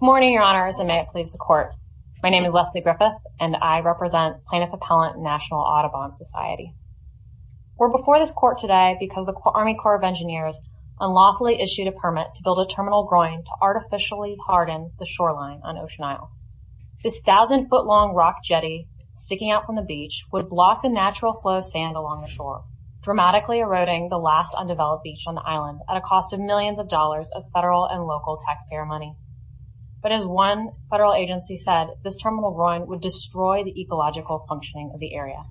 Morning, your honors and may it please the court. My name is Leslie Griffith, and I represent plaintiff appellant National Audubon Society. We're before this court today because the Army Corps of Engineers unlawfully issued a permit to build a terminal groin to artificially harden the shoreline on Ocean Isle. This thousand foot long rock jetty sticking out from the beach would block the natural flow of sand along the shore, dramatically eroding the last undeveloped beach on the island at a cost of millions of dollars of federal and local taxpayer money. But as one federal agency said, this terminal groin would destroy the ecological functioning of the area.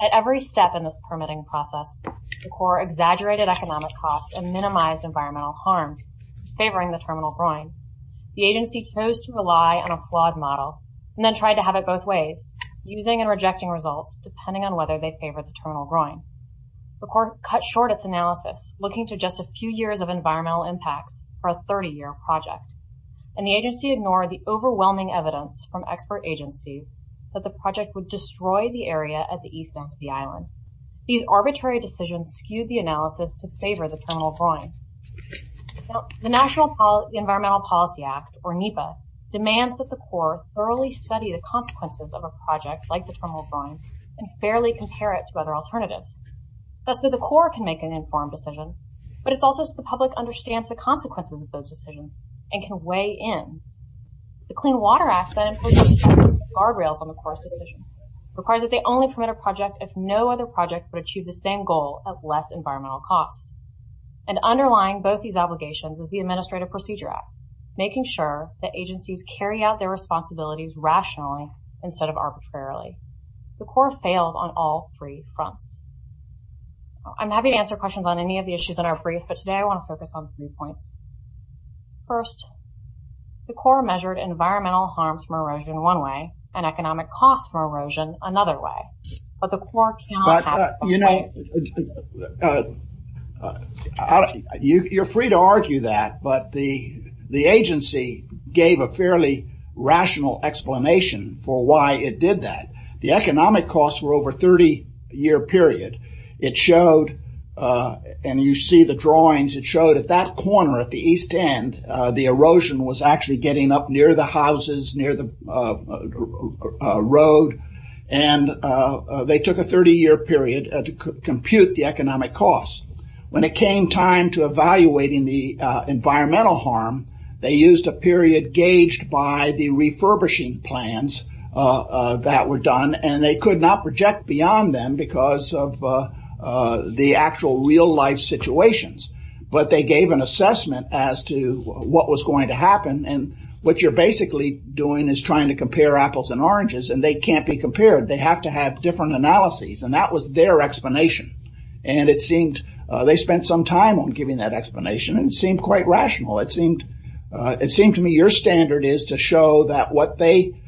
At every step in this permitting process, the Corps exaggerated economic costs and minimized environmental harms, favoring the terminal groin. The agency chose to rely on a flawed model, and then tried to have it both ways, using and rejecting results depending on whether they favor the terminal groin. The court cut short its analysis looking to just a few years of project, and the agency ignored the overwhelming evidence from expert agencies that the project would destroy the area at the east end of the island. These arbitrary decisions skewed the analysis to favor the terminal groin. The National Environmental Policy Act, or NEPA, demands that the Corps thoroughly study the consequences of a project like the terminal groin, and fairly compare it to other alternatives. That's so the Corps can make an informed decision, but it's also so the public understands the consequences of those decisions, and can weigh in. The Clean Water Act that imposes guardrails on the Corps decision requires that they only permit a project if no other project would achieve the same goal at less environmental cost. And underlying both these obligations is the Administrative Procedure Act, making sure that agencies carry out their responsibilities rationally, instead of arbitrarily. The Corps failed on all three fronts. I'm happy to answer questions on any of the issues in our brief, but today I want to focus on three points. First, the Corps measured environmental harms from erosion in one way, and economic costs from erosion another way. But the Corps cannot have... You know, you're free to argue that, but the agency gave a fairly rational explanation for why it did that. The economic costs were over a 30-year period. It showed, and you see the drawings, it showed at that corner at the east end, the erosion was actually getting up near the houses, near the road, and they took a 30-year period to compute the economic costs. When it came time to evaluating the environmental harm, they used a period gauged by the refurbishing plans that were done, and they could not project beyond them because of the actual real-life situations, but they gave an assessment as to what was going to happen, and what you're basically doing is trying to compare apples and oranges, and they can't be compared. They have to have different analyses, and that was their explanation. They spent some time on giving that explanation, and it seemed quite rational. It seemed to me your standard is to show that what they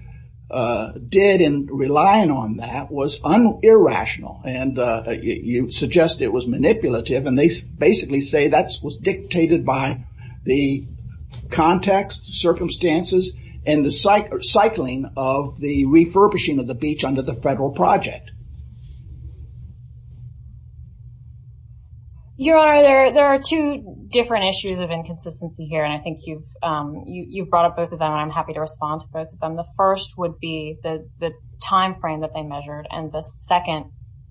did in relying on that was irrational, and you suggest it was manipulative, and they basically say that was dictated by the context, circumstances, and the cycling of the refurbishing of the beach under the federal project. Your Honor, there are two different issues of inconsistency here, and I think you've brought up both of them, and I'm happy to respond to both of them. The first would be the timeframe that they measured, and the second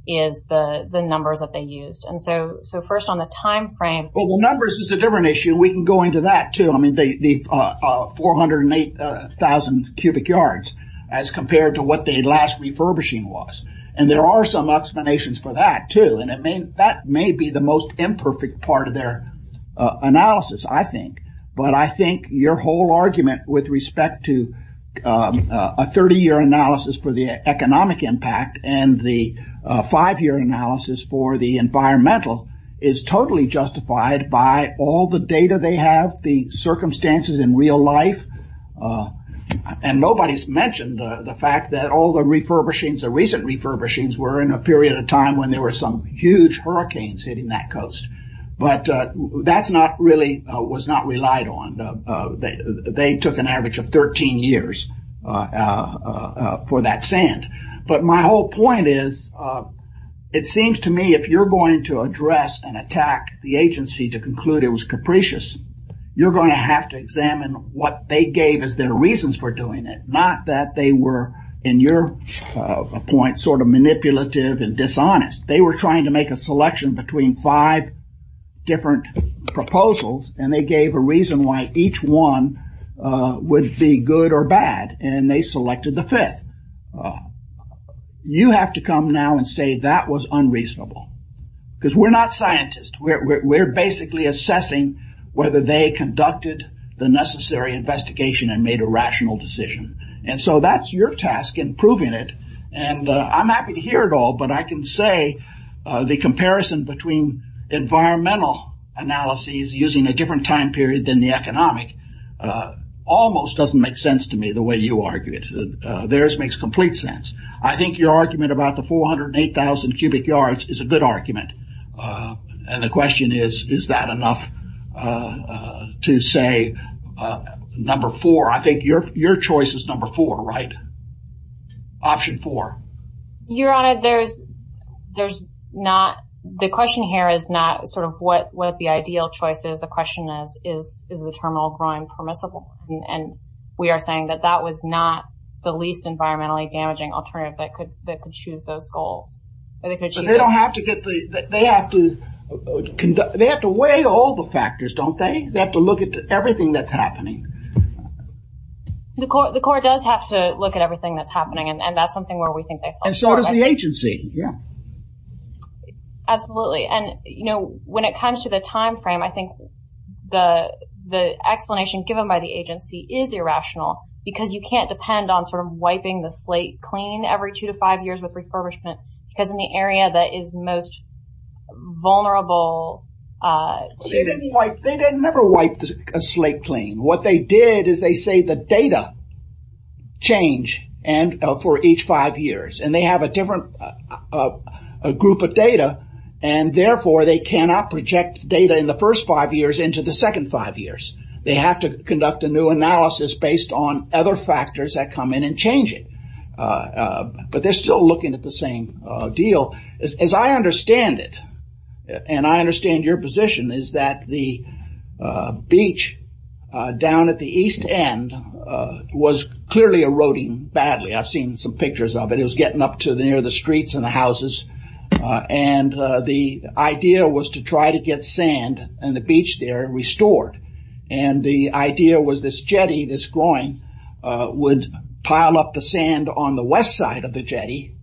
is the numbers that they used, and so first on the timeframe. Well, the numbers is a different issue. We can go into that, too. I mean, the 408,000 cubic yards as compared to what they last refurbishing was, and there are some explanations for that, too, and that may be the most imperfect part of their analysis, I think, but I think your whole argument with respect to a 30 year analysis for the economic impact and the five year analysis for the environmental is totally justified by all the data they have, the circumstances in real life, and nobody's mentioned the fact that all the refurbishings, the recent refurbishings were in a period of time when there were some huge hurricanes hitting that coast, but that's not really, was not relied on. They took an average of 13 years for that sand, but my whole point is, it seems to me if you're going to address and attack the agency to conclude it was capricious, you're going to have to examine what they gave as their reasons for doing it, not that they were, in your point, sort of manipulative and dishonest. They were trying to make a selection between five different proposals, and they gave a reason why each one would be good or bad, and they selected the fifth. You have to come now and say that was unreasonable, because we're not scientists. We're basically assessing whether they conducted the necessary investigation and made a rational decision, and so that's your task in proving it, and I'm happy to hear it all, but I can say the comparison between environmental analyses using a different time period than the economic almost doesn't make sense to me the way you argue it. Theirs makes complete sense. I think your argument about the 408,000 cubic yards is a good argument. And the question is, is that enough to say, number four, I think your your choice is number four, right? Option four. Your Honor, there's, there's not the question here is not sort of what what the ideal choice is. The question is, is the terminal groin permissible? And we are saying that that was not the least environmentally damaging alternative that could that could choose those goals. They don't have to get the they have to conduct, they have to weigh all the factors, don't they? They have to look at everything that's happening. The court, the court does have to look at everything that's happening. And that's something where we think that and so does the agency. Yeah. Absolutely. And, you know, when it comes to the timeframe, I think the explanation given by the agency is irrational, because you can't depend on sort of wiping the slate clean every two to five years with refurbishment, because in the area that is most vulnerable, they didn't wipe, they didn't ever wipe the slate clean. What they did is they say the data change and for each five years and they have a different group of data. And therefore, they cannot project data in the first five years into the second five years, they have to conduct a new analysis based on other factors that come in and change it. But they're still looking at the same deal, as I understand it. And I understand your position is that the beach down at the east end was clearly eroding badly, I've seen some pictures of it, it was getting up to the near the streets and the houses. And the idea was to try to get sand and the beach there restored. And the idea was this jetty, this groin would pile up the sand on the west side of the jetty.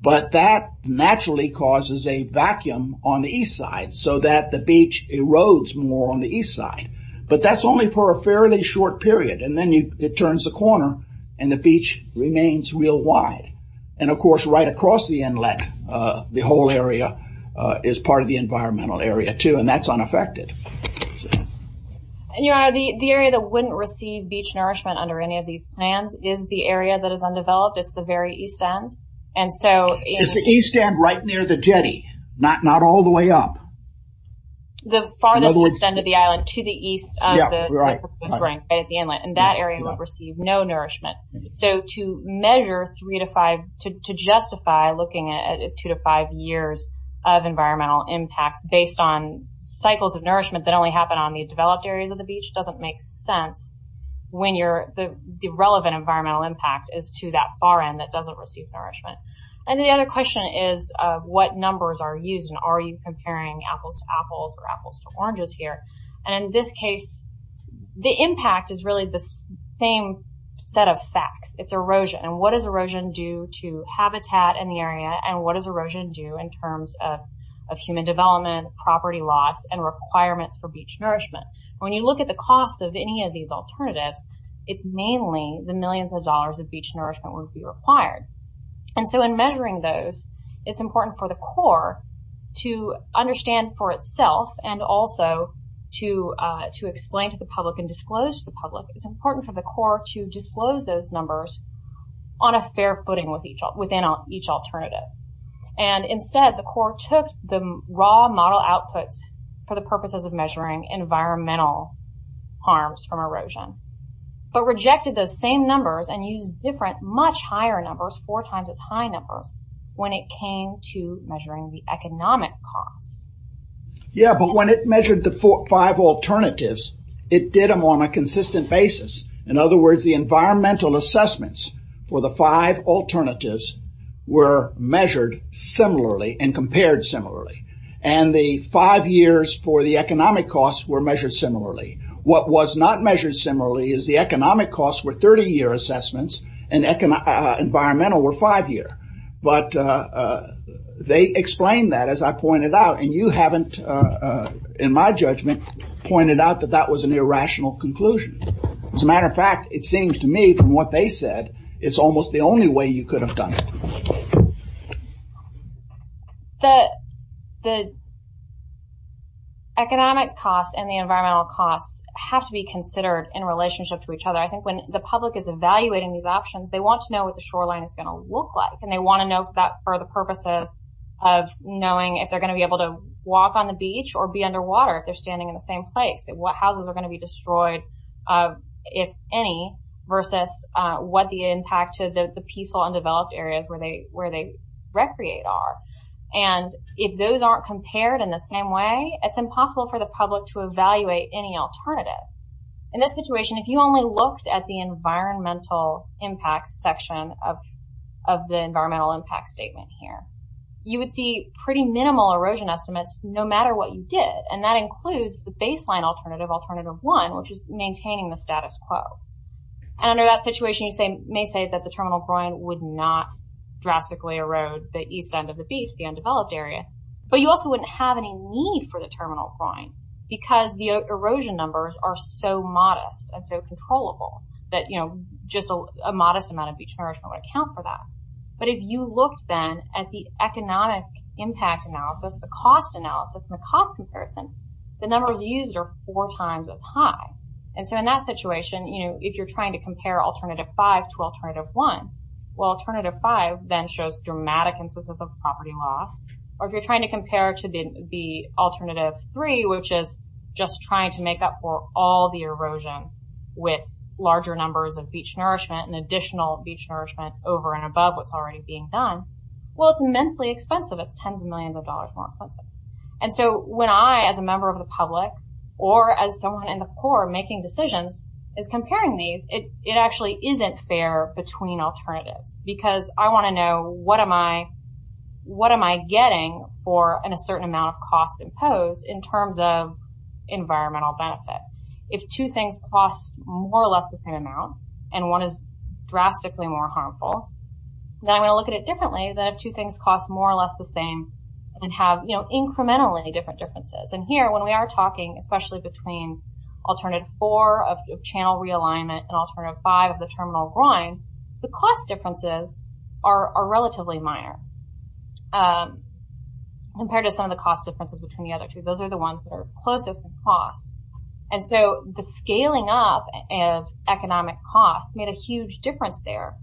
But that naturally causes a vacuum on the east side so that the beach erodes more on the east side. But that's only for a fairly short period. And then it turns the corner, and the beach remains real wide. And of course, right across the inlet, the whole area is part of the environmental area too, and that's unaffected. And you are the area that wouldn't receive beach nourishment under any of these plans is the area that is undeveloped. It's the very east end. And so it's the east end right near the jetty, not all the way up. The farthest end of the island to the east of the right at the inlet, and that area will receive no nourishment. So to measure three to five to justify looking at two to five years of impacts based on cycles of nourishment that only happen on the developed areas of the beach doesn't make sense when the relevant environmental impact is to that far end that doesn't receive nourishment. And the other question is what numbers are used, and are you comparing apples to apples or apples to oranges here? And in this case, the impact is really the same set of facts. It's erosion. And what does erosion do to habitat in the area, and what does erosion do in terms of human development, property loss and requirements for beach nourishment? When you look at the cost of any of these alternatives, it's mainly the millions of dollars of beach nourishment would be required. And so in measuring those, it's important for the Corps to understand for itself and also to explain to the public and disclose to the public, it's important for the Corps to disclose those numbers on a fair footing within each alternative. And instead, the Corps took the raw model outputs for the purposes of measuring environmental harms from erosion, but rejected those same numbers and use different much higher numbers four times as high numbers when it came to measuring the economic costs. Yeah, but when it measured the four, five alternatives, it did them on a consistent basis. In other words, the environmental assessments for the five alternatives were measured similarly and compared similarly. And the five years for the economic costs were measured similarly. What was not measured similarly is the economic costs were 30 year assessments and economic environmental were five year. But they explained that as I pointed out, and you haven't, in my judgment, pointed out that that was an irrational conclusion. As they said, it's almost the only way you could have done. The, the economic costs and the environmental costs have to be considered in relationship to each other. I think when the public is evaluating these options, they want to know what the shoreline is going to look like. And they want to know that for the purposes of knowing if they're going to be able to walk on the beach or be underwater if they're standing in the same place and what houses are going to be destroyed, if any, versus what the impact of the peaceful undeveloped areas where they where they recreate are. And if those aren't compared in the same way, it's impossible for the public to evaluate any alternative. In this situation, if you only looked at the environmental impact section of, of the environmental impact statement here, you would see pretty minimal erosion estimates no matter what you did. And that includes the baseline alternative, alternative one, which is maintaining the status quo. And under that situation, you say may say that the terminal groin would not drastically erode the east end of the beach, the undeveloped area, but you also wouldn't have any need for the terminal groin, because the erosion numbers are so modest and so controllable that, you know, just a modest amount of beach nourishment would account for that. But if you looked then at the economic impact analysis, the cost analysis, and the cost comparison, the numbers used are four times as high. And so in that situation, you know, if you're trying to compare alternative five to alternative one, well, alternative five, then shows dramatic instances of property loss. Or if you're trying to compare to the alternative three, which is just trying to make up for all the erosion, with larger numbers of beach nourishment and additional beach nourishment over and above what's already being done. Well, it's immensely expensive. It's 10s of millions of dollars more expensive. And so when I as a member of the public, or as someone in the poor making decisions, is comparing these, it actually isn't fair between alternatives, because I want to know what am I, what am I getting for an a certain amount of costs imposed in terms of environmental benefit, if two things cost more or less the same amount, and one is drastically more harmful, then I'm going to look at it differently than if two things cost more or less the same, and have, you know, incrementally different differences. And here when we are talking especially between alternative four of channel realignment and alternative five of the terminal groin, the cost differences are relatively minor. Compared to some of the cost differences between the other two, those are the ones that are closest in cost. And so the scaling up of economic costs made a huge difference there.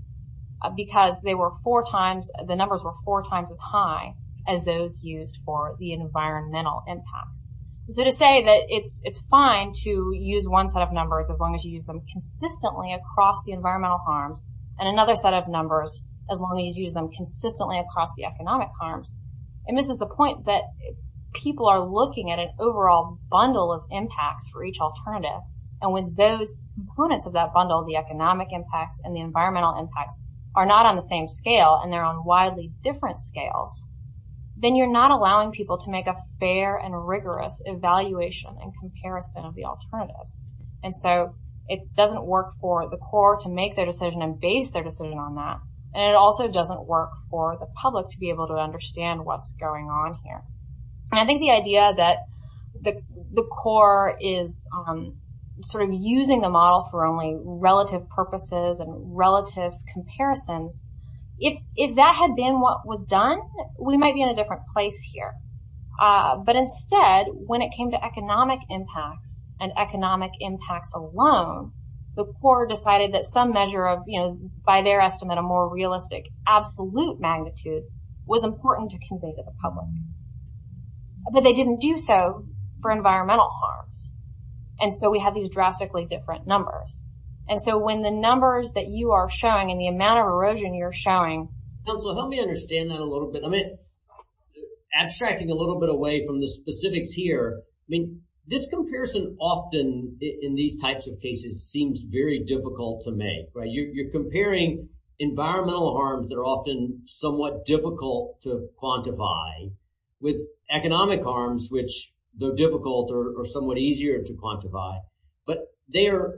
Because they were four times, the numbers were four times as high as those used for the environmental impacts. So to say that it's fine to use one set of numbers, as long as you use them consistently across the environmental harms, and another set of numbers, as long as you use them consistently across the economic harms. And this is the point that people are looking at an overall bundle of impacts for each alternative. And when those components of that bundle, the economic impacts and the environmental impacts are not on the same scale, and they're on the same scale, they're not allowing people to make a fair and rigorous evaluation and comparison of the alternatives. And so it doesn't work for the core to make their decision and base their decision on that. And it also doesn't work for the public to be able to understand what's going on here. And I think the idea that the core is sort of using the model for only relative purposes and relative comparisons, if that had been what was done, we might be in a different place here. But instead, when it came to economic impacts, and economic impacts alone, the core decided that some measure of, you know, by their estimate, a more realistic absolute magnitude was important to convey to the public. But they didn't do so for environmental harms. And so we have these drastically different numbers. And so when the numbers that you are showing and the amount of erosion you're showing... I mean, abstracting a little bit away from the specifics here, I mean, this comparison often in these types of cases seems very difficult to make, right? You're comparing environmental harms that are often somewhat difficult to quantify with economic harms, which though difficult or somewhat easier to quantify, but they're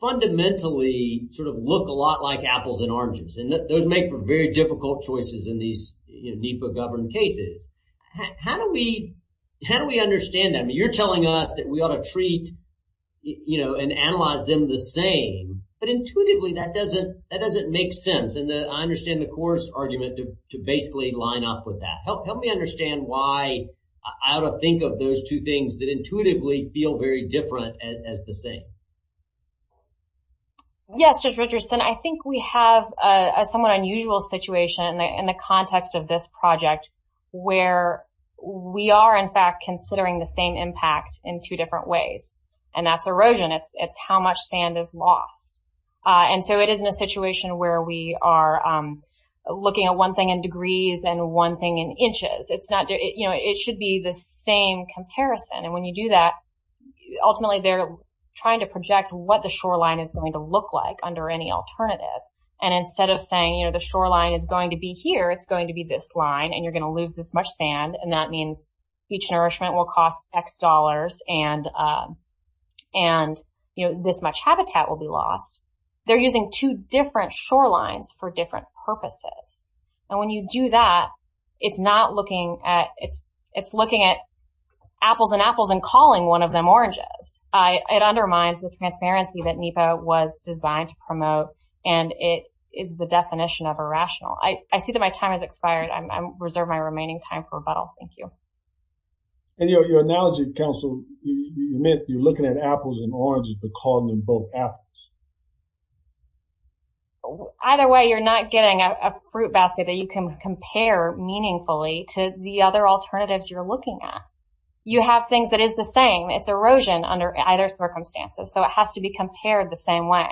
fundamentally sort of look a lot like apples and oranges. And those make for very difficult choices in these NEPA governed cases. How do we, how do we understand that? I mean, you're telling us that we ought to treat, you know, and analyze them the same. But intuitively, that doesn't, that doesn't make sense. And I understand the coarse argument to basically line up with that. Help me understand why I ought to think of those two things that intuitively feel very different as the same. Yes, Judge Richardson, I think we have a somewhat unusual situation in the context of this project, where we are, in fact, considering the same impact in two different ways. And that's erosion, it's how much sand is lost. And so it is in a situation where we are looking at one thing in degrees and one thing in inches, it's not, you know, it should be the same comparison. And when you do that, ultimately, they're trying to project what the shoreline is going to look like under any alternative. And instead of saying, you know, the shoreline is going to be here, it's going to be this line, and you're going to lose this much sand. And that means each nourishment will cost X dollars and, and, you know, this much habitat will be lost. They're using two different shorelines for different purposes. And when you do that, it's not looking at it's, it's looking at apples and apples and calling one of them oranges. It undermines the transparency that NEPA was designed to promote. And it is the definition of irrational. I see that my time has expired. I reserve my remaining time for rebuttal. Thank you. And your analogy, counsel, you're looking at apples and oranges, but calling them both apples. Either way, you're not getting a fruit basket that you can compare meaningfully to the other alternatives you're looking at. You have things that is the same, it's erosion under either circumstances. So it has to be compared the same way.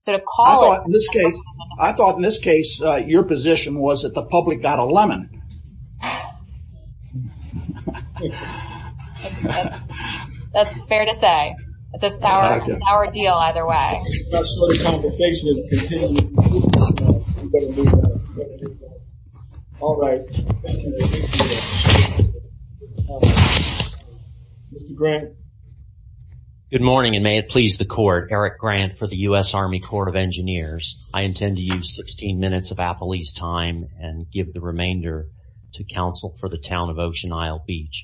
So to call it this case, I thought in this case, your position was that the public got a lemon. That's fair to say, this is our deal either way. All right. Mr. Grant. Good morning, and may it please the court. Eric Grant for the U.S. Army Court of Engineers. I intend to use 16 minutes of Appley's time and give the remainder to counsel for the town of Ocean Isle Beach.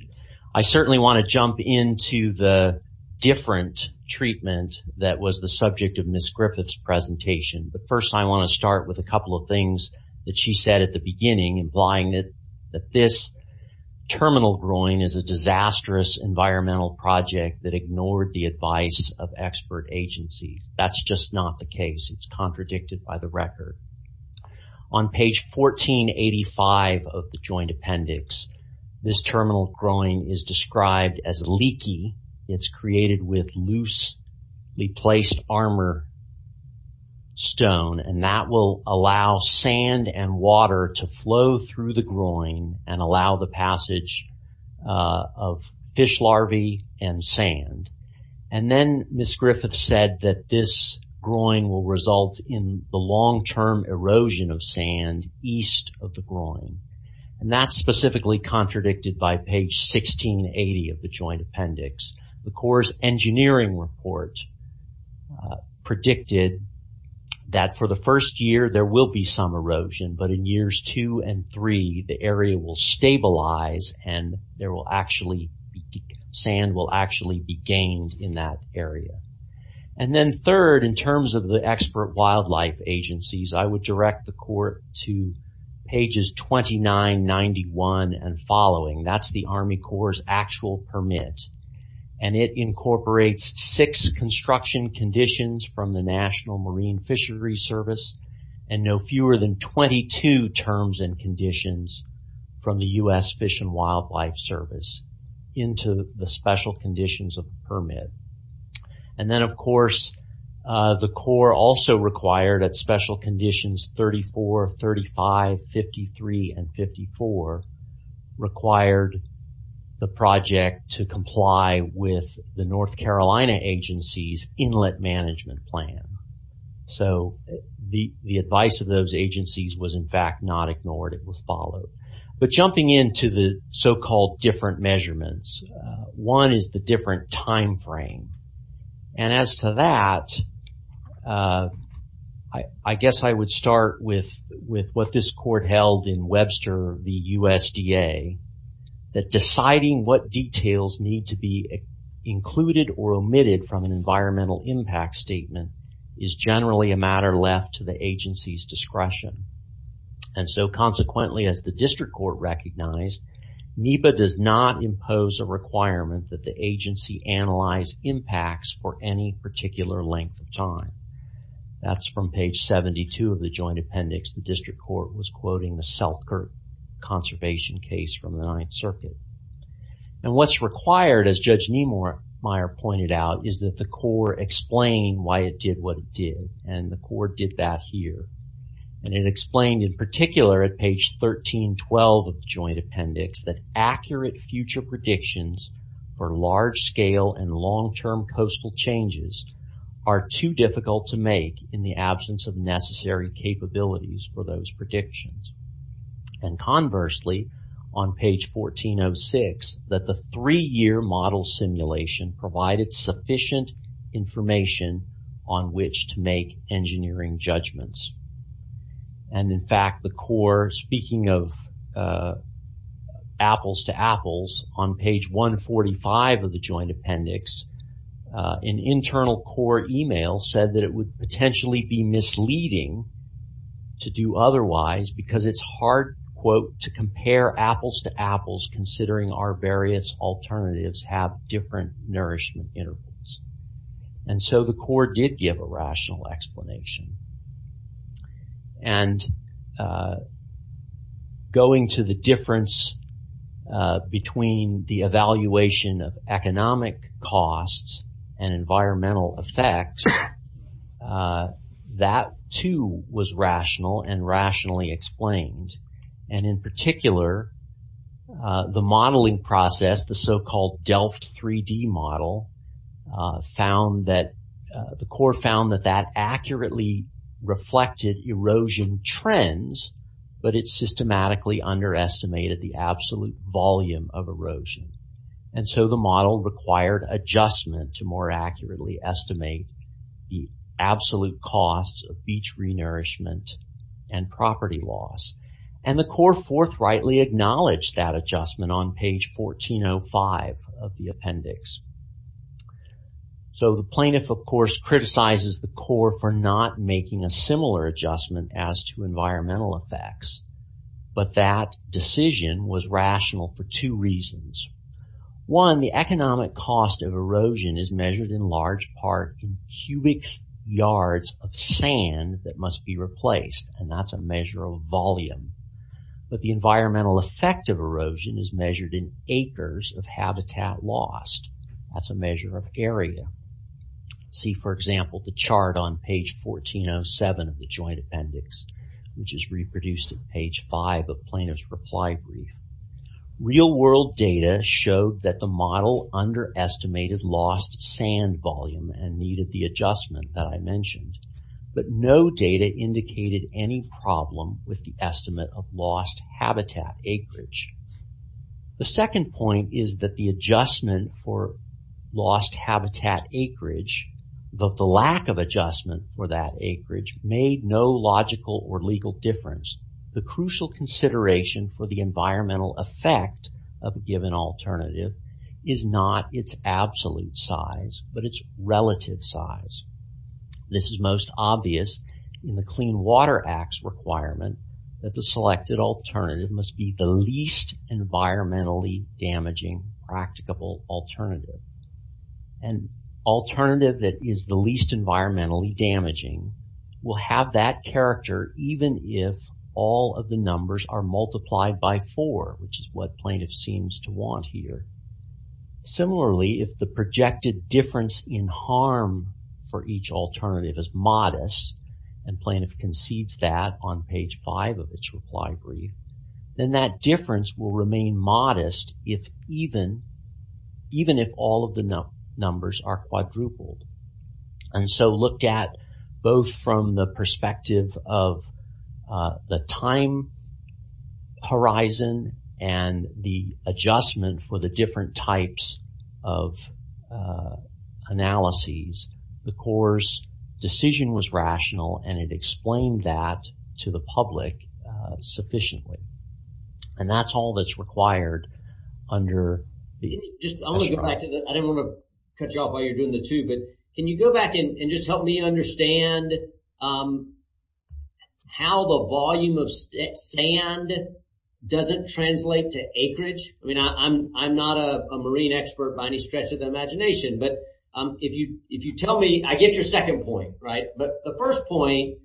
I certainly want to jump into the different treatment that was the subject of Ms. Griffith's presentation. But first, I want to start with a couple of things that she said at the beginning, implying that this terminal groin is a disastrous environmental project that ignored the advice of expert agencies. That's just not the case. It's contradicted by the record. On page 1485 of the joint appendix, this terminal groin is described as leaky. It's created with loosely placed armor stone and that will allow sand and water to flow through the groin and allow the passage of fish larvae and sand. Then Ms. Griffith said that this groin will result in the long-term erosion of sand east of the groin. That's specifically contradicted by page 1680 of the joint appendix. The Corps' engineering report predicted that for the first year, there will be some erosion, but in years two and three, the area will stabilize and sand will actually be gained in that area. Then third, in terms of the expert wildlife agencies, I would direct the Corps to pages 2991 and following. That's the Army Corps' actual permit. It incorporates six construction conditions from the National Terms and Conditions from the U.S. Fish and Wildlife Service into the special conditions of the permit. Then, of course, the Corps also required at special conditions 34, 35, 53, and 54 required the project to comply with the North Carolina agency's inlet management plan. The advice of those agencies was in fact not ignored. It was followed. Jumping into the so-called different measurements, one is the different time frame. As to that, I guess I would start with what this court held in Webster, the USDA, that deciding what details need to be included or omitted from an environmental impact statement is generally a And so consequently, as the district court recognized, NEPA does not impose a requirement that the agency analyze impacts for any particular length of time. That's from page 72 of the joint appendix. The district court was quoting the Selkirk conservation case from the Ninth Circuit. And what's required, as Judge Niemeyer pointed out, is that the Corps explain why it did what it did. And the Corps did that here. And it explained in particular at page 1312 of the joint appendix that accurate future predictions for large-scale and long-term coastal changes are too difficult to make in the absence of necessary capabilities for those predictions. And conversely, on page 1406, that the three-year model simulation provided sufficient information on which to make engineering judgments. And, in fact, the Corps, speaking of apples to apples, on page 145 of the joint appendix, an internal court email said that it would potentially be misleading to do otherwise because it's hard, quote, to compare apples to apples considering our various alternatives have different nourishment intervals. And so the Corps did give a rational explanation. And going to the difference between the evaluation of economic costs and environmental effects, that, too, was rational and rationally explained. And, in particular, the modeling process, the so-called Delft 3D model, the Corps found that that accurately reflected erosion trends, but it systematically underestimated the absolute volume of erosion. And so the model required adjustment to more accurately estimate the absolute costs of beach re-nourishment and property loss. And the Corps forthrightly acknowledged that adjustment on page 1405 of the joint appendix. So the plaintiff, of course, criticizes the Corps for not making a similar adjustment as to environmental effects. But that decision was rational for two reasons. One, the economic cost of erosion is measured in large part in cubic yards of sand that must be replaced, and that's a measure of volume. But the environmental effect of erosion, that's a measure of area. See, for example, the chart on page 1407 of the joint appendix, which is reproduced at page 5 of plaintiff's reply brief. Real world data showed that the model underestimated lost sand volume and needed the adjustment that I mentioned. But no data indicated any problem with the estimate of lost habitat acreage. The second point is that the adjustment for lost habitat acreage, the lack of adjustment for that acreage, made no logical or legal difference. The crucial consideration for the environmental effect of a given alternative is not its absolute size, but its relative size. This is most obvious in the Clean Water Act's requirement that the selected alternative must be the least environmentally damaging practicable alternative. An alternative that is the least environmentally damaging will have that character even if all of the numbers are multiplied by four, which is what plaintiff seems to want here. Similarly, if the projected difference in harm for each alternative is modest, and plaintiff concedes that on page 5 of its reply brief, then that difference will remain modest even if all of the numbers are quadrupled. And so looked at both from the perspective of the time horizon and the adjustment for the different types of analyses, the the public sufficiently. And that's all that's required under the... I didn't want to cut you off while you're doing the two, but can you go back and just help me understand how the volume of sand doesn't translate to acreage? I mean, I'm not a marine expert by any stretch of the imagination, but if you if you tell me, I get your second point, right? But the first point,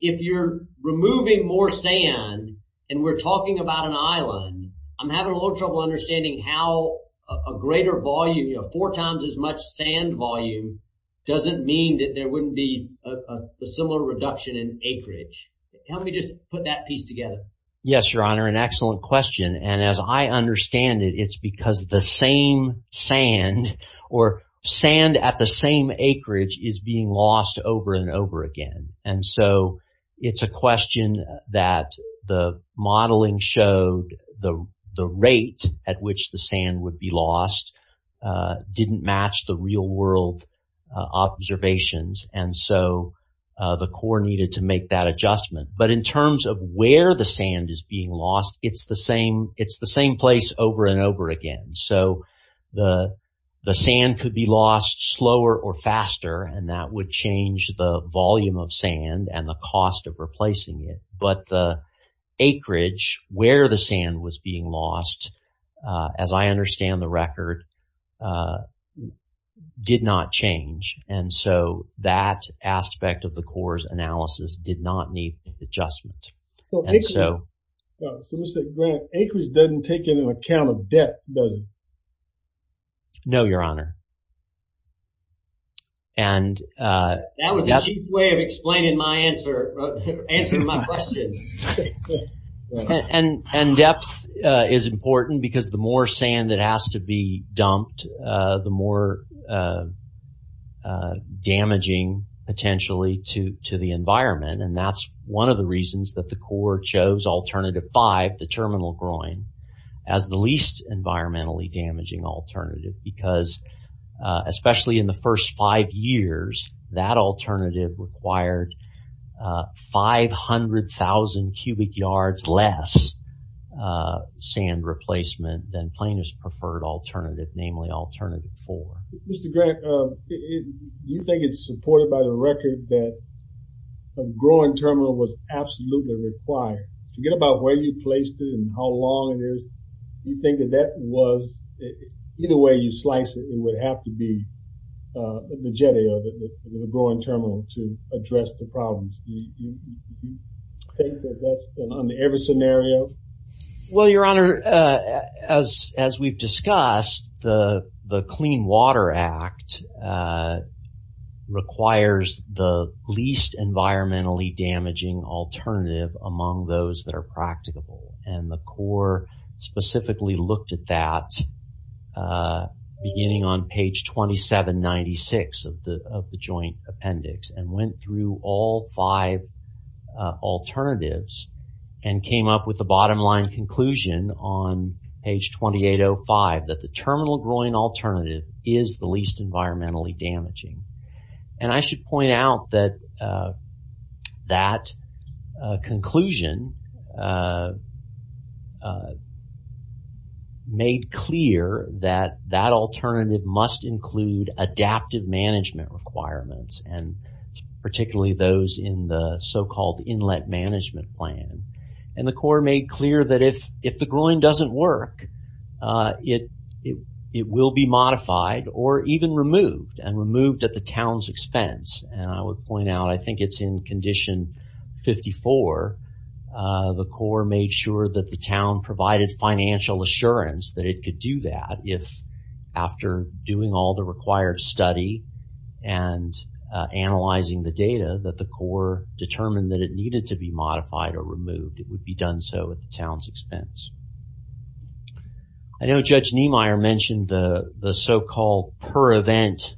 if you're removing more sand and we're talking about an island, I'm having a little trouble understanding how a greater volume, you know, four times as much sand volume doesn't mean that there wouldn't be a similar reduction in acreage. Help me just put that piece together. Yes, your honor, an excellent question. And as I understand it, it's because the same sand or sand at the same acreage is being lost over and over again. And so it's a question that the modeling showed the rate at which the sand would be lost didn't match the real world observations. And so the Corps needed to make that adjustment. But in terms of where the sand is being lost, it's the same. It's the same place over and over again. So the sand could be lost slower or faster, and that would change the volume of sand and the cost of replacing it. But the acreage where the sand was being lost, as I understand the record, did not change. And so that aspect of the Corps' analysis did not need adjustment. And so. So let's say Grant, acreage doesn't take into account of debt, does it? No, your honor. That was a cheap way of explaining my answer, answering my question. And depth is important because the more sand that has to be dumped, the more damaging potentially to the environment. And that's one of the reasons that the Corps chose alternative five, the terminal groin, as the environmentally damaging alternative. Because especially in the first five years, that alternative required 500,000 cubic yards less sand replacement than planer's preferred alternative, namely alternative four. Mr. Grant, you think it's supported by the record that a groin terminal was absolutely required. Forget about where you placed it and how long it is. You think that that was, either way you slice it, it would have to be the jetty of it, the groin terminal to address the problems. You think that that's been under every scenario? Well, your honor, as we've discussed, the Clean Water Act requires the least environmentally damaging alternative among those that are practicable. And the Corps specifically looked at that beginning on page 2796 of the joint appendix and went through all five alternatives and came up with a bottom line conclusion on page 2805 that the terminal groin alternative is the least environmentally damaging. And I should point out that that conclusion made clear that that alternative must include adaptive management requirements and particularly those in the so-called inlet management plan. And the Corps made clear that if the groin doesn't work, it will be modified or even removed and moved at the town's expense. And I would point out, I think it's in condition 54, the Corps made sure that the town provided financial assurance that it could do that if, after doing all the required study and analyzing the data, that the Corps determined that it needed to be modified or removed. It would be done so at the town's expense. I know Judge Niemeyer mentioned the so-called per event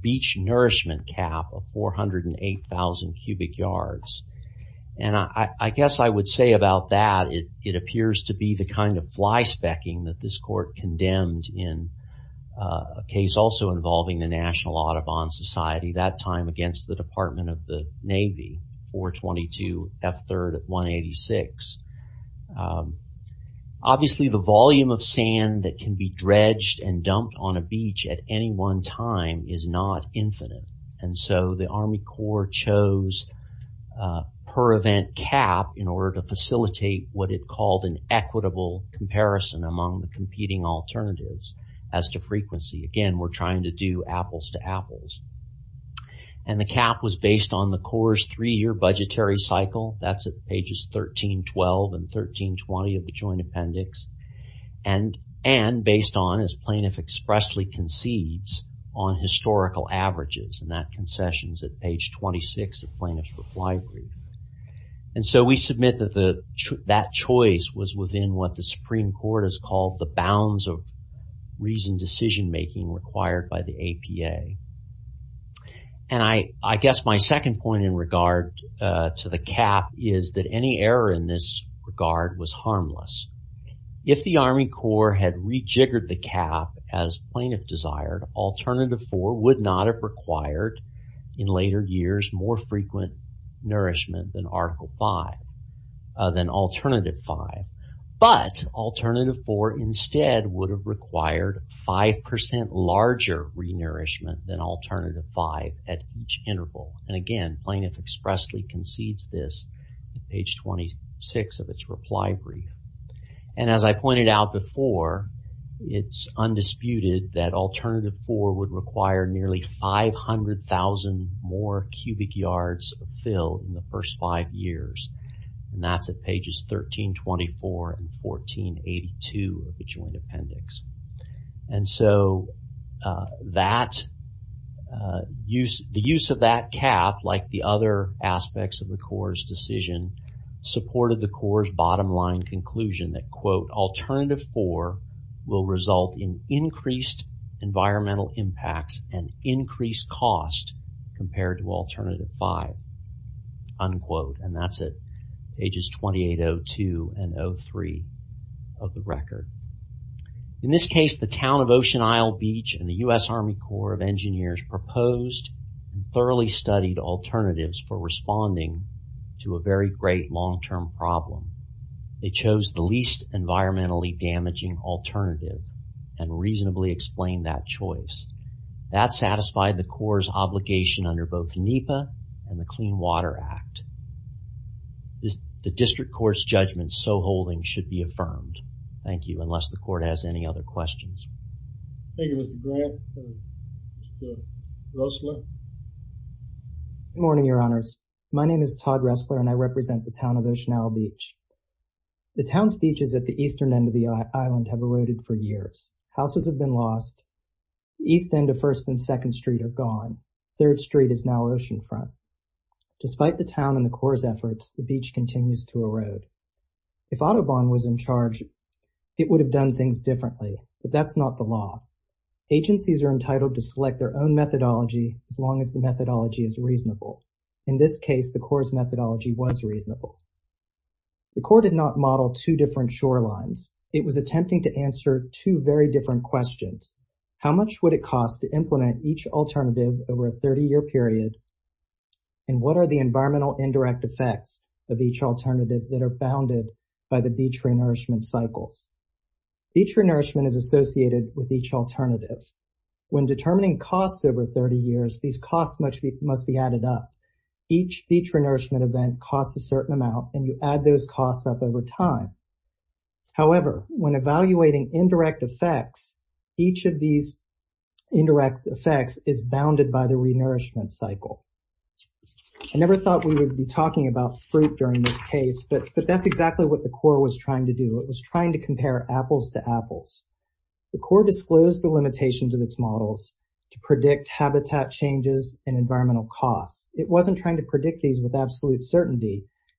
beach nourishment cap of 408,000 cubic yards. And I guess I would say about that, it appears to be the kind of fly specking that this court condemned in a case also involving the National Audubon Society that time against the Department of the Coast. Obviously the volume of sand that can be dredged and dumped on a beach at any one time is not infinite. And so the Army Corps chose per event cap in order to facilitate what it called an equitable comparison among the competing alternatives as to frequency. Again, we're trying to do apples to apples. And the cap was based on the Corps' three year budgetary That's at pages 1312 and 1320 of the joint appendix. And based on as plaintiff expressly concedes on historical averages and that concession is at page 26 of plaintiff's reply brief. And so we submit that that choice was within what the Supreme Court has called the bounds of reasoned decision making required by the APA. And I guess my second point in is that any error in this regard was harmless. If the Army Corps had rejiggered the cap as plaintiff desired, alternative four would not have required in later years more frequent nourishment than article five, than alternative five. But alternative four instead would have required 5% larger re-nourishment than alternative five at each interval. And page 26 of its reply brief. And as I pointed out before, it's undisputed that alternative four would require nearly 500,000 more cubic yards of fill in the first five years. And that's at pages 1324 and 1482 of the joint appendix. And so the use of that cap, like the other aspects of the Corps' decision, supported the Corps' bottom line conclusion that, quote, alternative four will result in increased environmental impacts and increased cost compared to alternative five, unquote. And that's at pages 2802 and 03 of the record. In this case, the town of Ocean Isle Beach and the U.S. Army Corps of Engineers proposed and thoroughly studied alternatives for responding to a very great long-term problem. They chose the least environmentally damaging alternative and reasonably explained that choice. That satisfied the Corps' obligation under both NEPA and the Clean Water Act. The district court's judgment so holding should be affirmed. Thank you. Unless the court has any other questions. Thank you, Mr. Grant. Mr. Ressler? Good morning, Your Honors. My name is Todd Ressler, and I represent the town of Ocean Isle Beach. The town's beaches at the eastern end of the island have eroded for years. Houses have been lost. The east end of First and Second Street are gone. Third Street is now oceanfront. Despite the town and beach continues to erode. If Audubon was in charge, it would have done things differently, but that's not the law. Agencies are entitled to select their own methodology as long as the methodology is reasonable. In this case, the Corps' methodology was reasonable. The Corps did not model two different shorelines. It was attempting to answer two very different questions. How much would it cost to implement each alternative over a 30-year period? And what are the benefits of each alternative that are bounded by the beach re-nourishment cycles? Beach re-nourishment is associated with each alternative. When determining costs over 30 years, these costs must be added up. Each beach re-nourishment event costs a certain amount, and you add those costs up over time. However, when evaluating indirect effects, each of these indirect effects is bounded by the re-nourishment cycle. I thought we would be talking about fruit during this case, but that's exactly what the Corps was trying to do. It was trying to compare apples to apples. The Corps disclosed the limitations of its models to predict habitat changes and environmental costs. It wasn't trying to predict these with absolute certainty.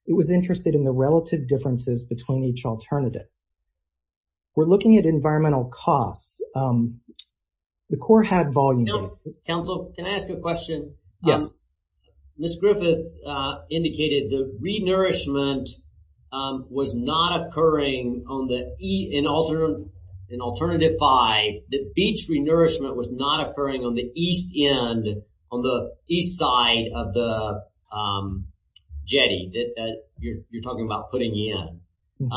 It was interested in the relative differences between each alternative. We're looking at environmental costs. The Corps had volume. Council, can I ask a question? Yes. Ms. Griffith indicated the re-nourishment was not occurring in alternative five. The beach re-nourishment was not occurring on the east end, on the east side of the jetty that you're talking about putting in.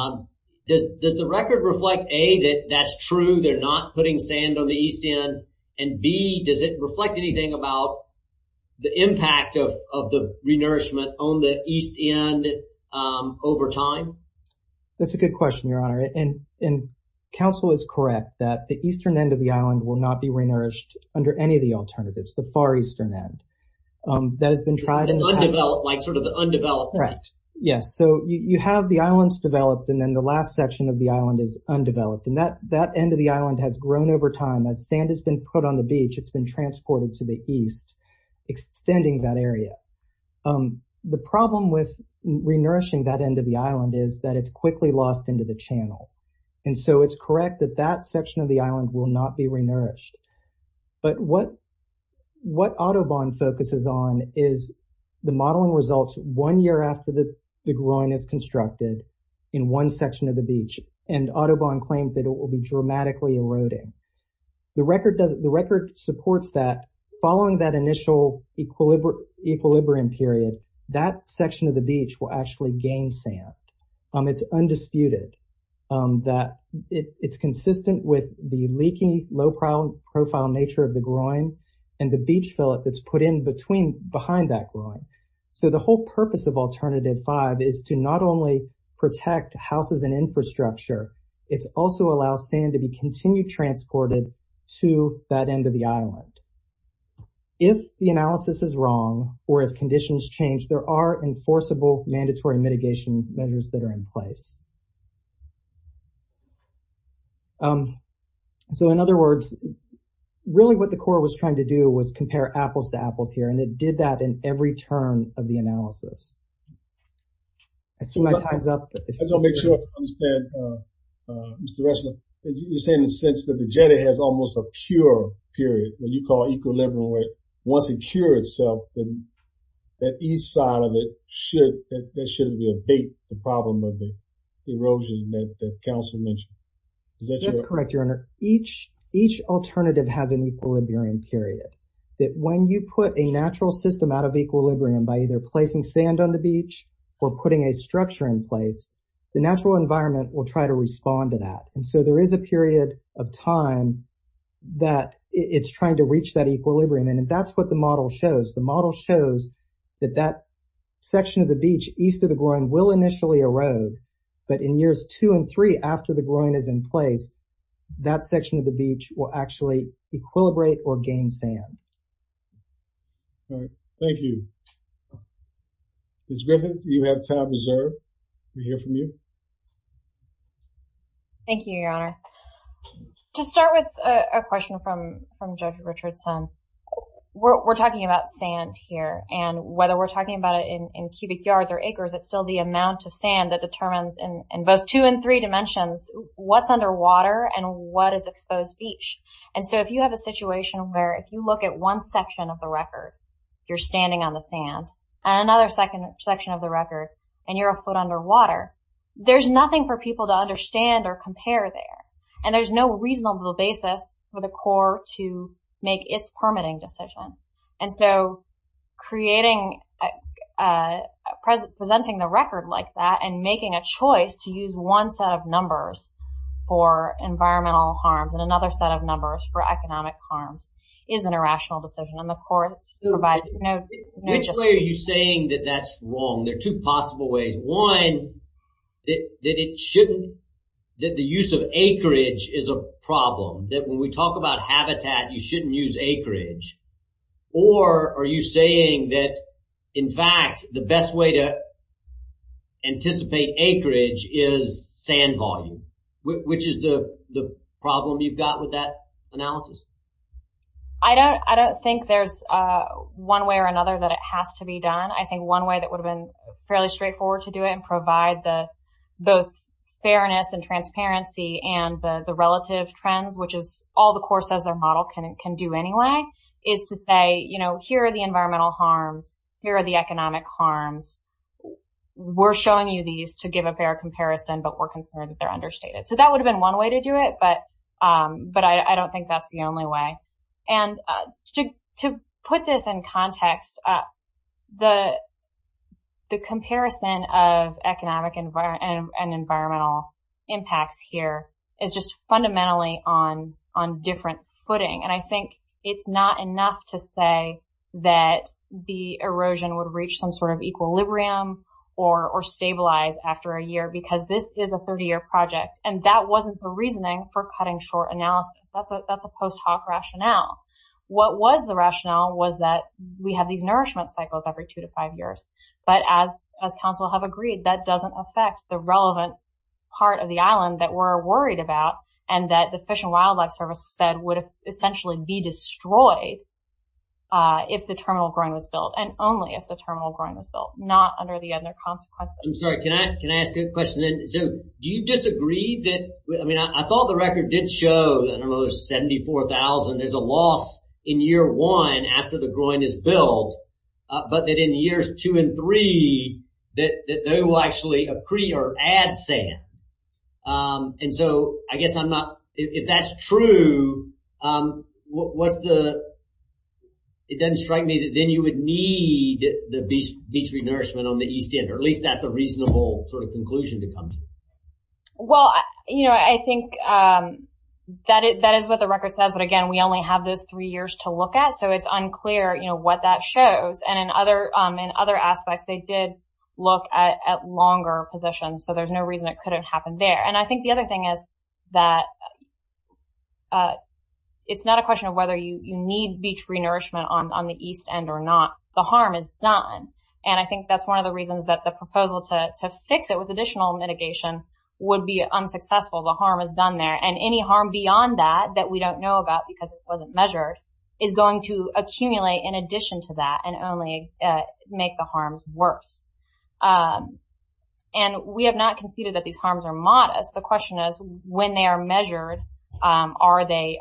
Does the record reflect, A, that that's true, they're not putting sand on the east end, and B, does it reflect anything about the impact of the re-nourishment on the east end over time? That's a good question, Your Honor. Council is correct that the eastern end of the island will not be re-nourished under any of the alternatives, the far eastern end. That has been tried. The undeveloped, sort of the undeveloped. Right. Yes. You have the islands developed, and then the last section of the island is undeveloped. That end of the sand has been put on the beach. It's been transported to the east, extending that area. The problem with re-nourishing that end of the island is that it's quickly lost into the channel, and so it's correct that that section of the island will not be re-nourished. But what Autobahn focuses on is the modeling results one year after the groin is constructed in one section of the beach, and Autobahn claims that it will be dramatically eroding. The record supports that following that initial equilibrium period, that section of the beach will actually gain sand. It's undisputed that it's consistent with the leaky, low-profile nature of the groin and the beach fillet that's put in between behind that groin. So the whole purpose of Alternative 5 is to not only protect houses and infrastructure, it also allows sand to be continued transported to that end of the island. If the analysis is wrong or if conditions change, there are enforceable mandatory mitigation measures that are in place. So in other words, really what the Corps was trying to do was compare apples to apples here, and it did that in every turn of the analysis. I see my time's up. I just want to make sure I understand, Mr. Ressler, you're saying in the sense that the jetty has almost a cure period, what you call equilibrium, where once it cures itself, then that east side of it, that shouldn't be a bait, the problem of the erosion that Councilor mentioned. That's correct, Your Honor. Each alternative has an equilibrium period, that when you put a natural system out of equilibrium by either placing sand on the beach or putting a structure in place, the natural environment will try to respond to that. And so there is a period of time that it's trying to reach that equilibrium, and that's what the model shows. The model shows that that section of the beach east of the groin will initially erode, but in years two and three after the groin is in place, that section of the beach will actually equilibrate or gain sand. All right, thank you. Ms. Griffith, you have time reserved to hear from you. Thank you, Your Honor. To start with a question from Judge Richardson, we're talking about sand here, and whether we're talking about it in cubic yards or acres, it's still the amount of sand that determines in both two and three dimensions what's underwater and what is exposed beach. And so if you have a situation where if you look at one section of the record, you're standing on the sand, and another second section of the record, and you're a foot underwater, there's nothing for people to understand or compare there. And there's no reasonable basis for the court to make its permitting decision. And so presenting the record like that and making a choice to use one set of numbers for environmental harms and another set of numbers for economic harms is an irrational decision, and the court's provided no justification. Which way are you saying that that's wrong? There are two possible ways. One, that it shouldn't, that the use of acreage is a problem, that when we talk about habitat, you shouldn't use acreage. Or are you saying that, in fact, the best way to anticipate acreage is sand volume, which is the problem you've got with that analysis? I don't think there's one way or another that it has to be done. I think one way that would have been fairly straightforward to do it and provide both fairness and transparency and the relative trends, which is all the courts as their model can do anyway, is to say, here are the environmental harms, here are the economic harms. We're showing you these to give a fair comparison, but we're concerned that they're understated. So that would have been one way to do it, but I don't think that's the only way. And to put this in context, the comparison of economic and environmental impacts here is just fundamentally on different footing. And I think it's not enough to say that the erosion would reach some sort of equilibrium or stabilize after a year, because this is a 30-year project, and that wasn't the reasoning for cutting short analysis. That's a post hoc rationale. What was the rationale was that we have these nourishment cycles every two to five years. But as counsel have agreed, that doesn't affect the relevant part of the island that we're worried about, and that the Fish and Wildlife Service said would essentially be destroyed if the terminal groin was built, and only if the terminal groin was built, not under the Edna consequences. I'm sorry, can I ask you a question? So do you disagree that, I mean, I thought the record did show, I don't know, there's 74,000, there's a loss in year one after the groin is built, but that in years two and three, that they will actually accrete or add sand. And so I guess I'm not, if that's true, what's the, it doesn't strike me that then you would need the beach renourishment on the east end, or at least that's a reasonable sort of conclusion to come to. Well, I think that is what the record says. But again, we only have those three years to look at. So it's unclear what that shows. And in other aspects, they did look at longer positions. So there's no reason it couldn't happen there. And I think the other thing is that it's not a question of whether you need beach renourishment on the east end or not, the harm is done. And I think that's one of the reasons that the proposal to would be unsuccessful. The harm is done there. And any harm beyond that, that we don't know about because it wasn't measured, is going to accumulate in addition to that and only make the harms worse. And we have not conceded that these harms are modest. The question is, when they are measured, are they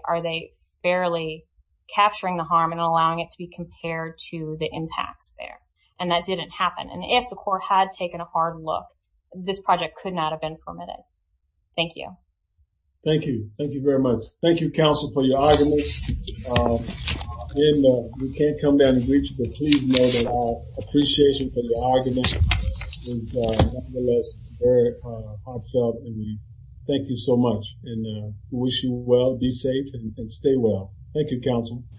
barely capturing the harm and allowing it to be compared to the impacts there? And that didn't happen. And if the court had taken a hard look, this project could have been permitted. Thank you. Thank you. Thank you very much. Thank you, counsel, for your argument. We can't come down and greet you, but please know that our appreciation for your argument is nonetheless very heartfelt. And we thank you so much and wish you well. Be safe and stay well. Thank you, counsel.